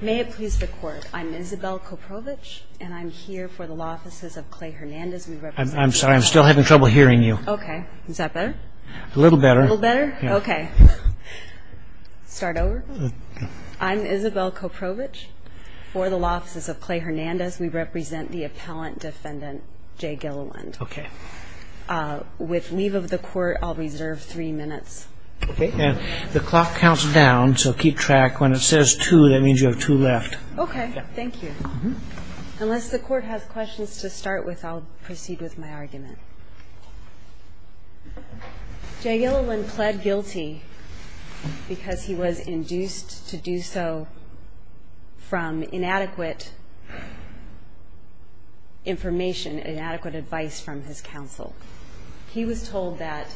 May it please the court. I'm Isabel Koprovich and I'm here for the law offices of Clay Hernandez I'm sorry. I'm still having trouble hearing you. Okay, is that better a little better a little better? Okay Start over I'm Isabel Koprovich for the law offices of Clay Hernandez. We represent the appellant defendant Jay Gilliland. Okay With leave of the court. I'll reserve three minutes The clock counts down so keep track when it says two that means you have two left. Okay. Thank you Unless the court has questions to start with I'll proceed with my argument Jay Gilliland pled guilty because he was induced to do so from inadequate Information and adequate advice from his counsel He was told that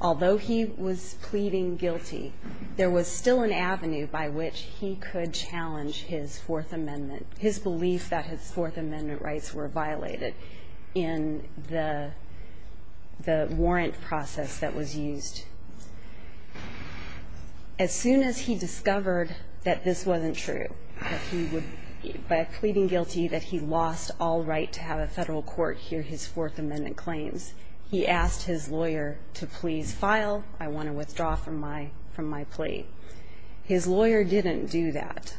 Although he was pleading guilty there was still an avenue by which he could challenge his Fourth Amendment his belief that his Fourth Amendment rights were violated in the the warrant process that was used As soon as he discovered that this wasn't true By pleading guilty that he lost all right to have a federal court hear his Fourth Amendment claims He asked his lawyer to please file. I want to withdraw from my from my plea His lawyer didn't do that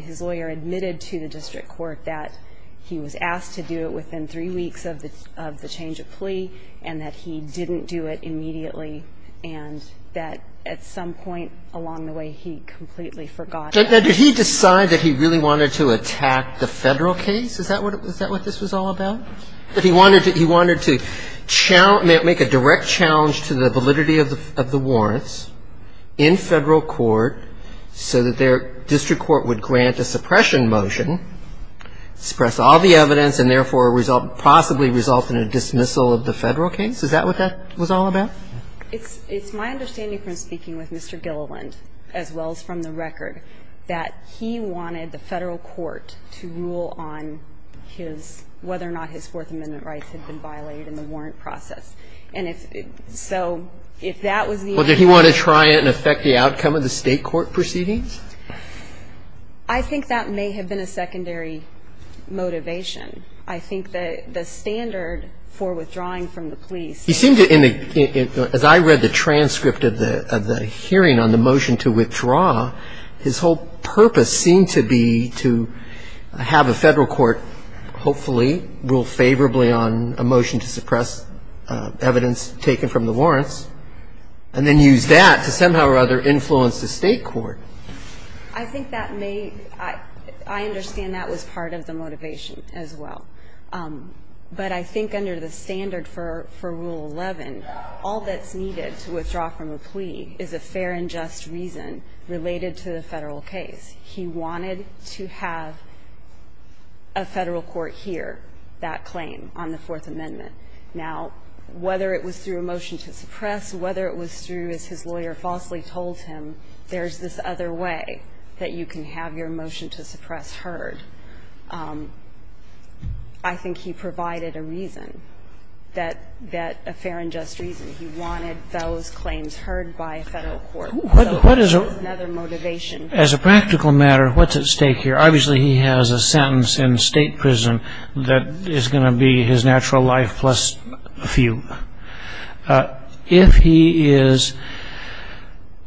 his lawyer admitted to the district court that he was asked to do it within three weeks of the of the change of plea and that he didn't do it immediately and That at some point along the way he completely forgot Did he decide that he really wanted to attack the federal case? Is that what it was that what this was all about that? He wanted to he wanted to Challenge make a direct challenge to the validity of the warrants in federal court So that their district court would grant a suppression motion Suppress all the evidence and therefore result possibly result in a dismissal of the federal case. Is that what that was all about? It's it's my understanding from speaking with mr Gilliland as well as from the record that he wanted the federal court to rule on his whether or not his Fourth Amendment rights had been violated in the warrant process and if So if that was well, did he want to try it and affect the outcome of the state court proceedings? I Think that may have been a secondary Motivation, I think that the standard for withdrawing from the police He seemed to in the as I read the transcript of the of the hearing on the motion to withdraw his whole purpose seemed to be to Have a federal court Hopefully rule favorably on a motion to suppress evidence taken from the warrants and then use that to somehow or other influence the state court I Think that may I I understand that was part of the motivation as well But I think under the standard for for rule 11 all that's needed to withdraw from a plea is a fair and just reason Related to the federal case he wanted to have a Federal court here that claim on the Fourth Amendment now Whether it was through a motion to suppress whether it was through as his lawyer falsely told him There's this other way that you can have your motion to suppress heard I Think he provided a reason that that a fair and just reason he wanted those claims heard by a federal court As a practical matter, what's at stake here? Obviously he has a sentence in state prison that is going to be his natural life plus a few if he is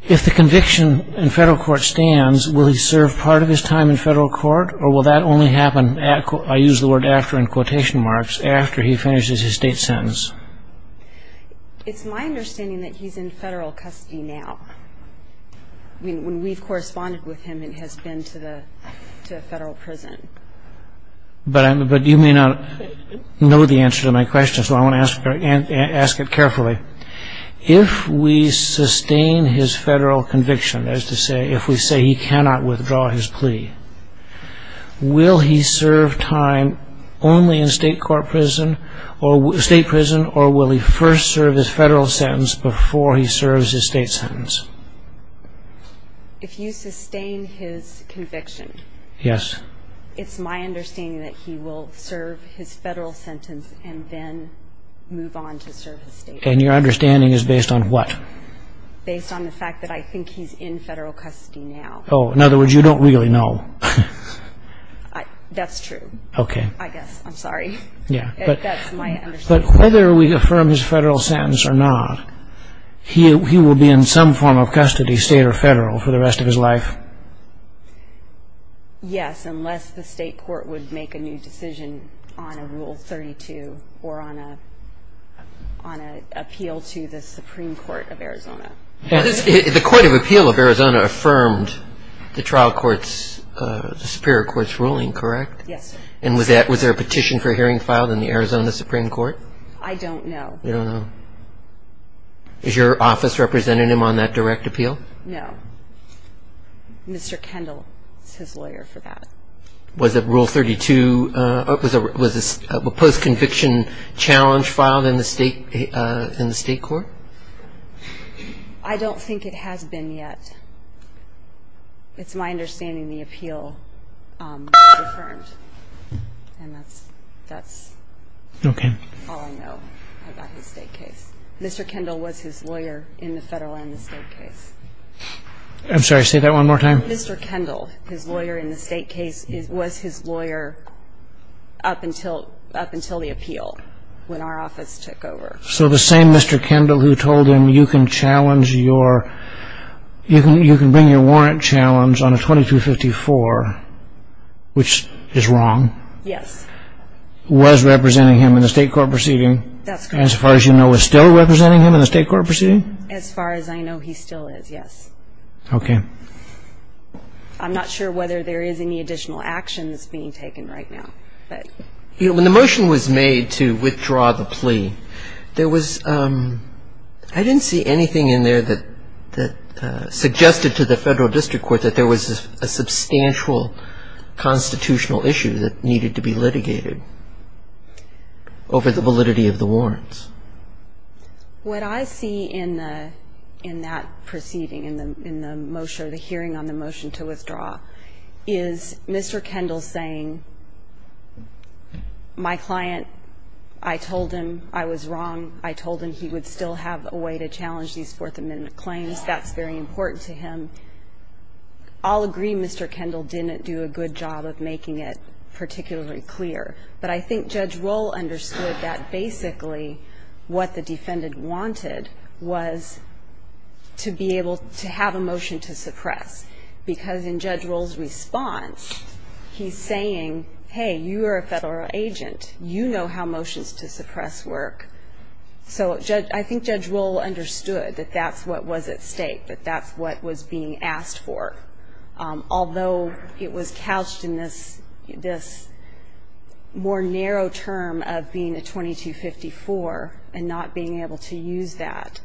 If the conviction in federal court stands will he serve part of his time in federal court or will that only happen? I use the word after in quotation marks after he finishes his state sentence It's my understanding that he's in federal custody now I mean when we've corresponded with him it has been to the federal prison But I'm but you may not Know the answer to my question. So I want to ask her and ask it carefully If we sustain his federal conviction as to say if we say he cannot withdraw his plea Will he serve time? Only in state court prison or state prison or will he first serve his federal sentence before he serves his state sentence? If you sustain his conviction, yes It's my understanding that he will serve his federal sentence and then Move on to service and your understanding is based on what? Based on the fact that I think he's in federal custody now. Oh, in other words, you don't really know That's true, okay, I guess I'm sorry. Yeah But whether we affirm his federal sentence or not He will be in some form of custody state or federal for the rest of his life Yes, unless the state court would make a new decision on a rule 32 or on a on a appeal to the Supreme Court of Arizona the Court of Appeal of Arizona affirmed the trial courts Superior courts ruling correct? Yes, and was that was there a petition for hearing filed in the Arizona Supreme Court? I don't know. No Is your office representing him on that direct appeal? No Mr. Kendall, it's his lawyer for that. Was it rule 32? Was this a post conviction challenge filed in the state in the state court? I Don't think it has been yet It's my understanding the appeal And that's that's okay Mr. Kendall was his lawyer in the federal and the state case I'm sorry. Say that one more time. Mr. Kendall his lawyer in the state case. It was his lawyer Up until up until the appeal when our office took over. So the same. Mr. Kendall who told him you can challenge your You can you can bring your warrant challenge on a 2254 Which is wrong. Yes Was representing him in the state court proceeding? That's as far as you know is still representing him in the state court proceeding as far as I know. He still is. Yes Okay I'm not sure whether there is any additional actions being taken right now but you know when the motion was made to withdraw the plea there was I didn't see anything in there that that Suggested to the federal district court that there was a substantial Constitutional issue that needed to be litigated Over the validity of the warrants What I see in the in that proceeding in the in the motion of the hearing on the motion to withdraw is Mr. Kendall saying My client I Told him I was wrong. I told him he would still have a way to challenge these Fourth Amendment claims. That's very important to him I'll agree. Mr. Kendall didn't do a good job of making it particularly clear but I think judge roll understood that basically what the defendant wanted was To be able to have a motion to suppress Because in judge rolls response He's saying hey, you are a federal agent. You know how motions to suppress work So judge I think judge will understood that that's what was at stake that that's what was being asked for Although it was couched in this this more narrow term of being a 2254 and not being able to use that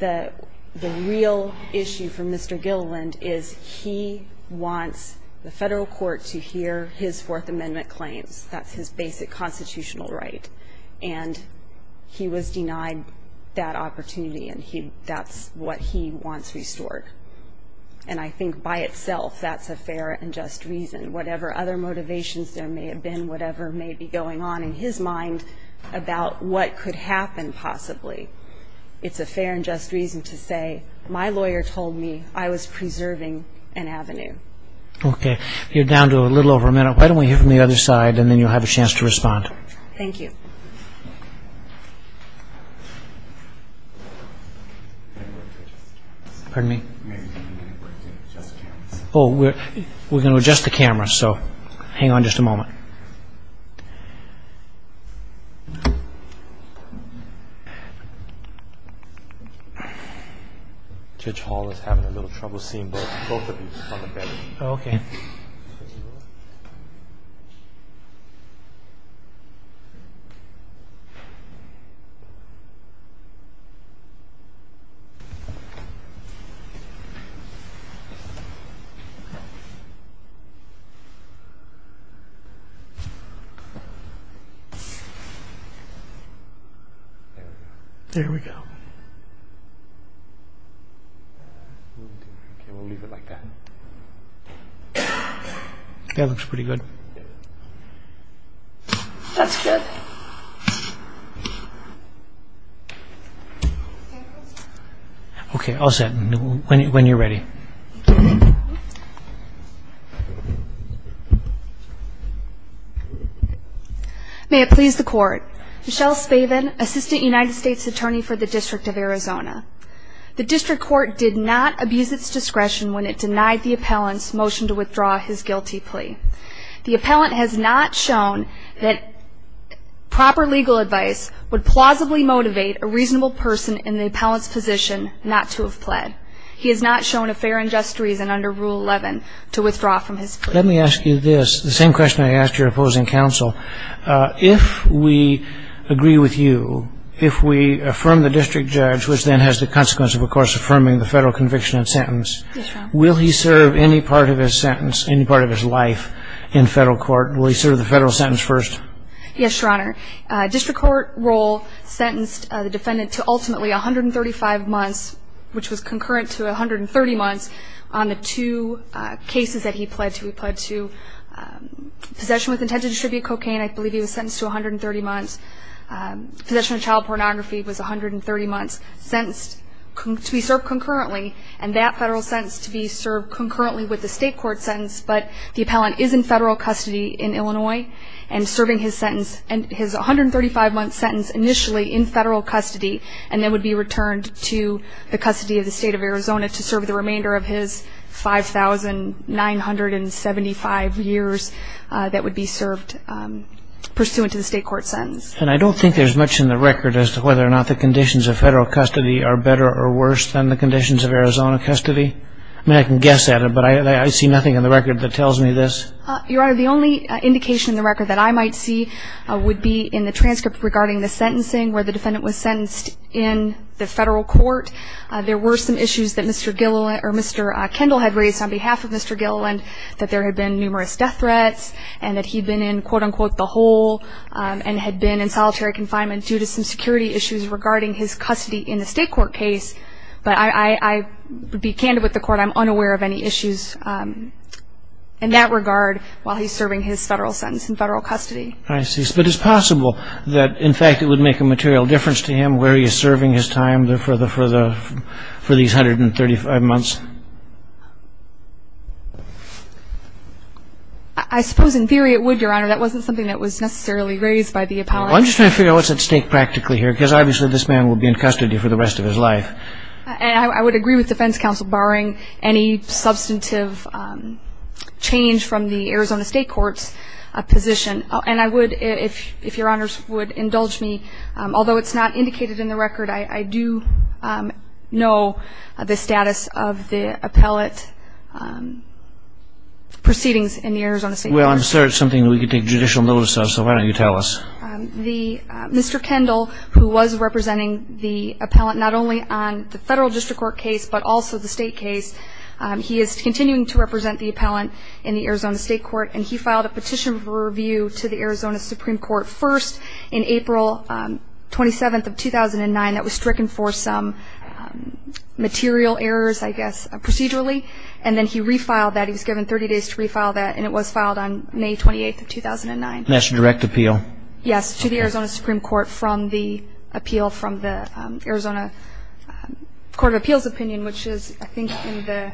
the the real issue from mr. Gilliland is he wants the federal court to hear his Fourth Amendment claims. That's his basic constitutional right and He was denied that opportunity and he that's what he wants restored And I think by itself that's a fair and just reason whatever other motivations There may have been whatever may be going on in his mind about what could happen possibly It's a fair and just reason to say my lawyer told me I was preserving an avenue Okay, you're down to a little over a minute. Why don't we hear from the other side and then you'll have a chance to respond Thank you Pardon me. Oh, we're we're gonna adjust the camera. So hang on just a moment Judge Hall is having a little trouble seeing both I There we go That looks pretty good Okay Okay, I'll set when you're ready May it please the court Michelle Spaven assistant United States Attorney for the District of Arizona The district court did not abuse its discretion when it denied the appellants motion to withdraw his guilty plea The appellant has not shown that Proper legal advice would plausibly motivate a reasonable person in the appellants position not to have pled He has not shown a fair and just reason under rule 11 to withdraw from his let me ask you this the same question I asked your opposing counsel if we Agree with you if we affirm the district judge which then has the consequence of of course affirming the federal conviction and sentence Will he serve any part of his sentence any part of his life in federal court will he serve the federal sentence first? Yes, your honor district court role Sentenced the defendant to ultimately a hundred and thirty-five months which was concurrent to a hundred and thirty months on the two cases that he pled to he pled to Possession with intent to distribute cocaine. I believe he was sentenced to a hundred and thirty months Possession of child pornography was a hundred and thirty months Sentenced to be served concurrently and that federal sentence to be served concurrently with the state court sentence but the appellant is in federal custody in Illinois and Serving his sentence and his 135 month sentence initially in federal custody And then would be returned to the custody of the state of Arizona to serve the remainder of his 5,000 975 years that would be served Pursuant to the state court sentence and I don't think there's much in the record as to whether or not the conditions of federal custody Are better or worse than the conditions of Arizona custody? I mean I can guess at it But I see nothing in the record that tells me this your honor The only indication in the record that I might see Would be in the transcript regarding the sentencing where the defendant was sentenced in the federal court There were some issues that mr. Gilliland or mr. Kendall had raised on behalf of mr Gilliland that there had been numerous death threats and that he'd been in quote-unquote the hole And had been in solitary confinement due to some security issues regarding his custody in the state court case, but I Would be candid with the court. I'm unaware of any issues In that regard while he's serving his federal sentence in federal custody I see but it's possible that in fact it would make a material difference to him where he is serving his time there for the further for these hundred and thirty five months I Suppose in theory it would your honor. That wasn't something that was necessarily raised by the appellate I'm just trying to figure out what's at stake practically here because obviously this man will be in custody for the rest of his life And I would agree with defense counsel barring any substantive Change from the Arizona State Courts a position and I would if if your honors would indulge me Although it's not indicated in the record. I I do Know the status of the appellate Proceedings in the Arizona State well, I'm sure it's something that we could take judicial notice of so why don't you tell us the Mr. Kendall who was representing the appellant not only on the federal district court case, but also the state case He is continuing to represent the appellant in the Arizona State Court And he filed a petition for review to the Arizona Supreme Court first in April 27th of 2009 that was stricken for some Material errors, I guess procedurally and then he refiled that he was given 30 days to refile that and it was filed on May 28th Of 2009 that's a direct appeal. Yes to the Arizona Supreme Court from the appeal from the Arizona Court of Appeals opinion, which is I think in the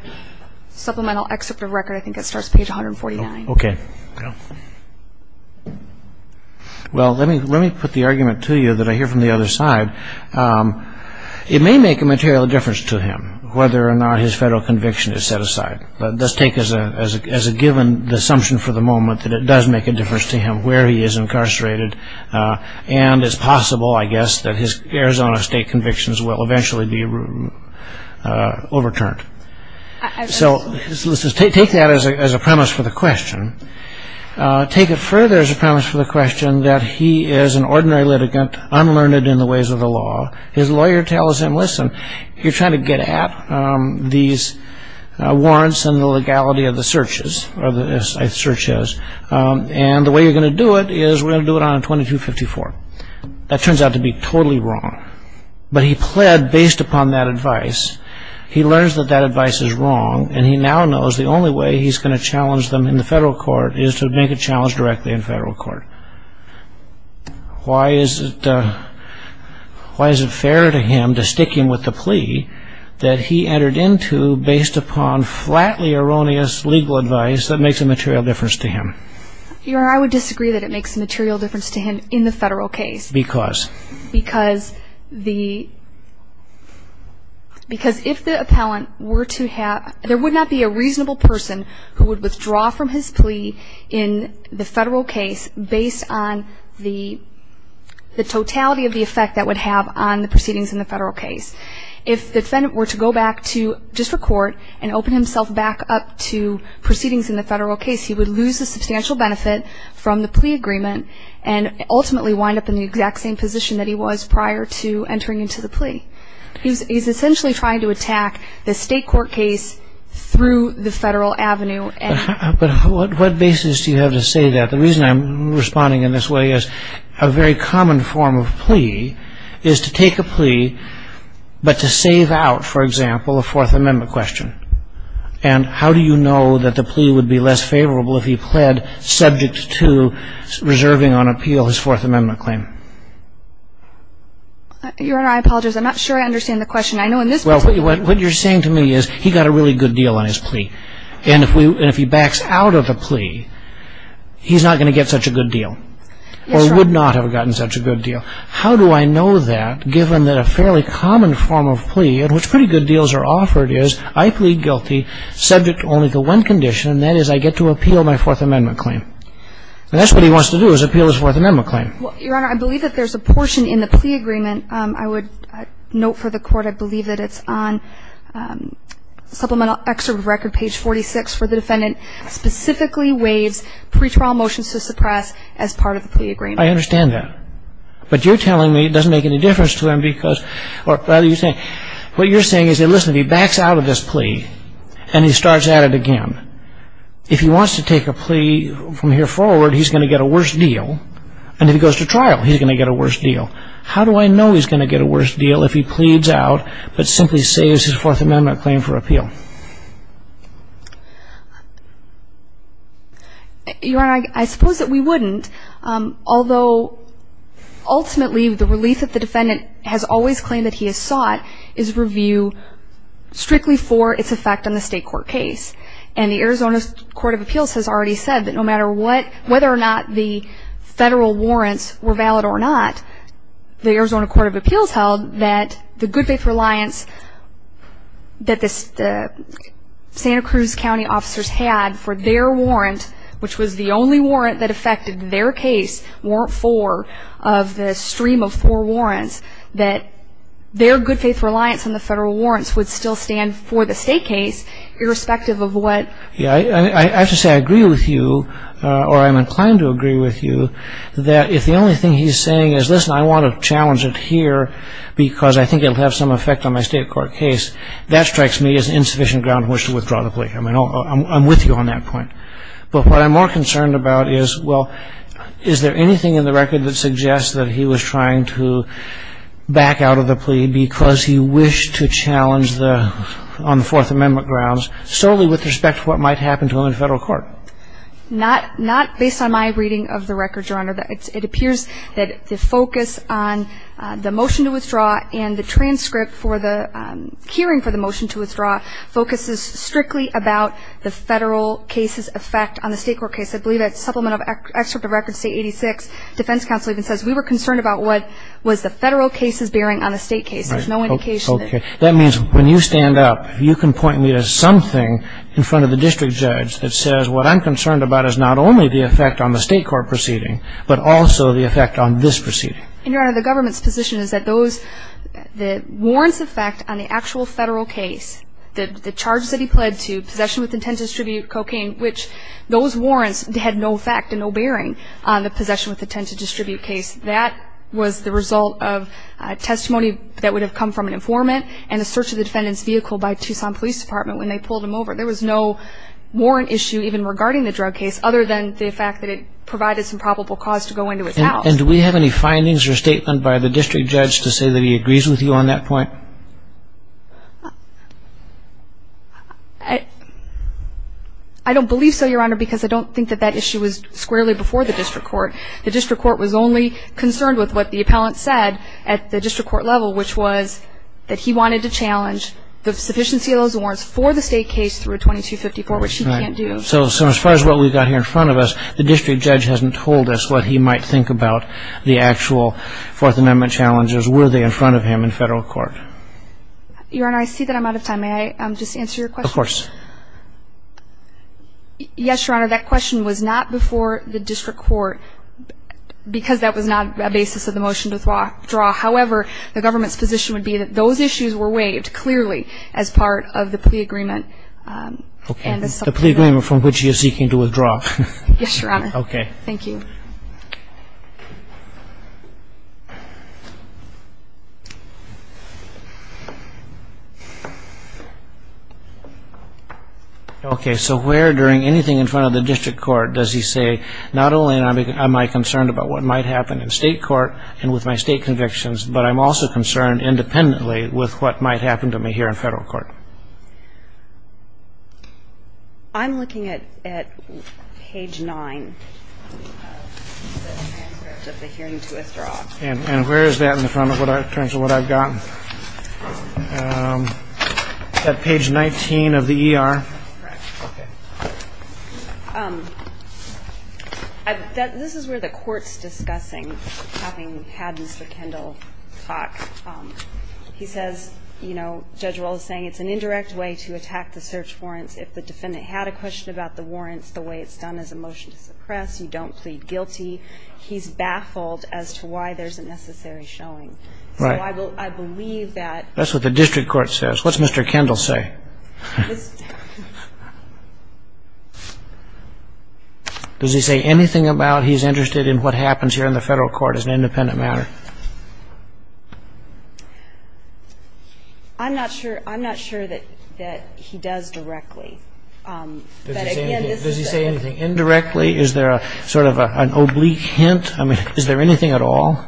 Supplemental excerpt of record. I think it starts page 149. Okay Well, let me let me put the argument to you that I hear from the other side It may make a material difference to him whether or not his federal conviction is set aside But let's take as a as a given the assumption for the moment that it does make a difference to him where he is incarcerated And it's possible I guess that his Arizona State convictions will eventually be Overturned So let's just take that as a premise for the question Take it further as a promise for the question that he is an ordinary litigant Unlearned in the ways of the law his lawyer tells him listen, you're trying to get at these warrants and the legality of the searches or the Searches and the way you're gonna do it is we're gonna do it on a 2254 that turns out to be totally wrong But he pled based upon that advice He learns that that advice is wrong And he now knows the only way he's going to challenge them in the federal court is to make a challenge directly in federal court Why is it Why is it fair to him to stick him with the plea that he entered into based upon? Flatly erroneous legal advice that makes a material difference to him you're I would disagree that it makes a material difference to him in the federal case because because the Because if the appellant were to have there would not be a reasonable person who would withdraw from his plea in the federal case based on the the totality of the effect that would have on the proceedings in the federal case if Defendant were to go back to district court and open himself back up to proceedings in the federal case he would lose a substantial benefit from the plea agreement and He's essentially trying to attack the state court case through the Federal Avenue and What basis do you have to say that the reason I'm responding in this way is a very common form of plea is to take? a plea but to save out for example a Fourth Amendment question and How do you know that the plea would be less favorable if he pled subject to? Reserving on appeal his Fourth Amendment claim Your honor I apologize, I'm not sure I understand the question I know in this well What you're saying to me is he got a really good deal on his plea and if we and if he backs out of the plea He's not gonna get such a good deal Or would not have gotten such a good deal How do I know that given that a fairly common form of plea and which pretty good deals are offered is I plead guilty? Subject only to one condition and that is I get to appeal my Fourth Amendment claim That's what he wants to do is appeal his Fourth Amendment claim I believe that there's a portion in the plea agreement. I would note for the court. I believe that it's on Supplemental excerpt record page 46 for the defendant Specifically waives pre-trial motions to suppress as part of the plea agreement I understand that but you're telling me it doesn't make any difference to him because or rather you say What you're saying is they listen if he backs out of this plea and he starts at it again If he wants to take a plea from here forward He's gonna get a worse deal and if he goes to trial, he's gonna get a worse deal How do I know he's gonna get a worse deal if he pleads out but simply saves his Fourth Amendment claim for appeal? You are I suppose that we wouldn't although Ultimately the relief that the defendant has always claimed that he has sought is review Strictly for its effect on the state court case and the Arizona Court of Appeals has already said that no matter what whether or not the federal warrants were valid or not The Arizona Court of Appeals held that the good faith reliance that this Santa Cruz County officers had for their warrant which was the only warrant that affected their case weren't four of the stream of four warrants that Their good faith reliance on the federal warrants would still stand for the state case irrespective of what yeah I have to say I agree with you Or I'm inclined to agree with you that if the only thing he's saying is listen I want to challenge it here Because I think it'll have some effect on my state court case that strikes me as insufficient ground which to withdraw the plea I mean, oh, I'm with you on that point But what I'm more concerned about is well, is there anything in the record that suggests that he was trying to? Back out of the plea because he wished to challenge the on the Fourth Amendment grounds solely with respect to what might happen to him in federal court Not not based on my reading of the record your honor that it appears that the focus on the motion to withdraw and the transcript for the Hearing for the motion to withdraw focuses strictly about the federal cases effect on the state court case I believe that supplement of excerpt of record state 86 defense counsel even says we were concerned about what? Was the federal cases bearing on a state case? There's no indication that means when you stand up you can point me to something in front of the district judge that says what I'm Concerned about is not only the effect on the state court proceeding But also the effect on this proceeding in your honor the government's position is that those? the warrants effect on the actual federal case the charges that he pled to possession with intent to distribute cocaine which Those warrants had no fact and no bearing on the possession with intent to distribute case that was the result of Testimony that would have come from an informant and a search of the defendant's vehicle by Tucson Police Department when they pulled him over there Was no warrant issue even regarding the drug case other than the fact that it Provided some probable cause to go into it now and do we have any findings or statement by the district judge to say that he? agrees with you on that point I Don't believe so your honor because I don't think that that issue was squarely before the district court the district court was only Concerned with what the appellant said at the district court level which was that he wanted to challenge The sufficiency of those warrants for the state case through a 2254 which he can't do so so as far as what we've got here In front of us the district judge hasn't told us what he might think about the actual fourth amendment challenges Were they in front of him in federal court? Your honor I see that. I'm out of time a I'm just answer your question of course Yes your honor that question was not before the district court Because that was not a basis of the motion to thwa draw however the government's position would be that those issues were waived Clearly as part of the plea agreement Okay, the plea agreement from which you're seeking to withdraw. Yes, your honor. Okay. Thank you Okay So where during anything in front of the district court does he say not only am I concerned about what might happen in state court And with my state convictions, but I'm also concerned independently with what might happen to me here in federal court I'm looking at at page 9 Of the hearing to withdraw and where is that in the front of what I terms of what I've gotten That page 19 of the ER This is where the courts discussing having had mr. Kendall talk He says you know judge We'll is saying it's an indirect way to attack the search warrants if the defendant had a question about the warrants the way it's Suppressed you don't plead guilty He's baffled as to why there's a necessary showing right? I believe that that's what the district court says. What's mr. Kendall say? Does he say anything about he's interested in what happens here in the federal court as an independent matter I'm not sure. I'm not sure that that he does directly Does he say anything indirectly is there a sort of an oblique hint, I mean is there anything at all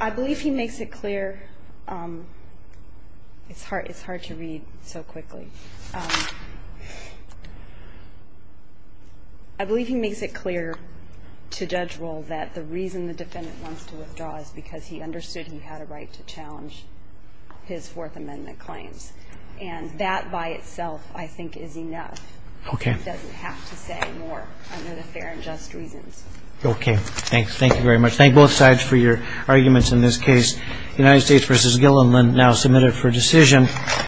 I Believe he makes it clear. It's hard. It's hard to read so quickly I Believe he makes it clear To judge role that the reason the defendant wants to withdraw is because he understood he had a right to challenge His Fourth Amendment claims and that by itself. I think is enough Okay Okay, thanks, thank you very much. Thank both sides for your arguments in this case the United States versus Gilliland now submitted for decision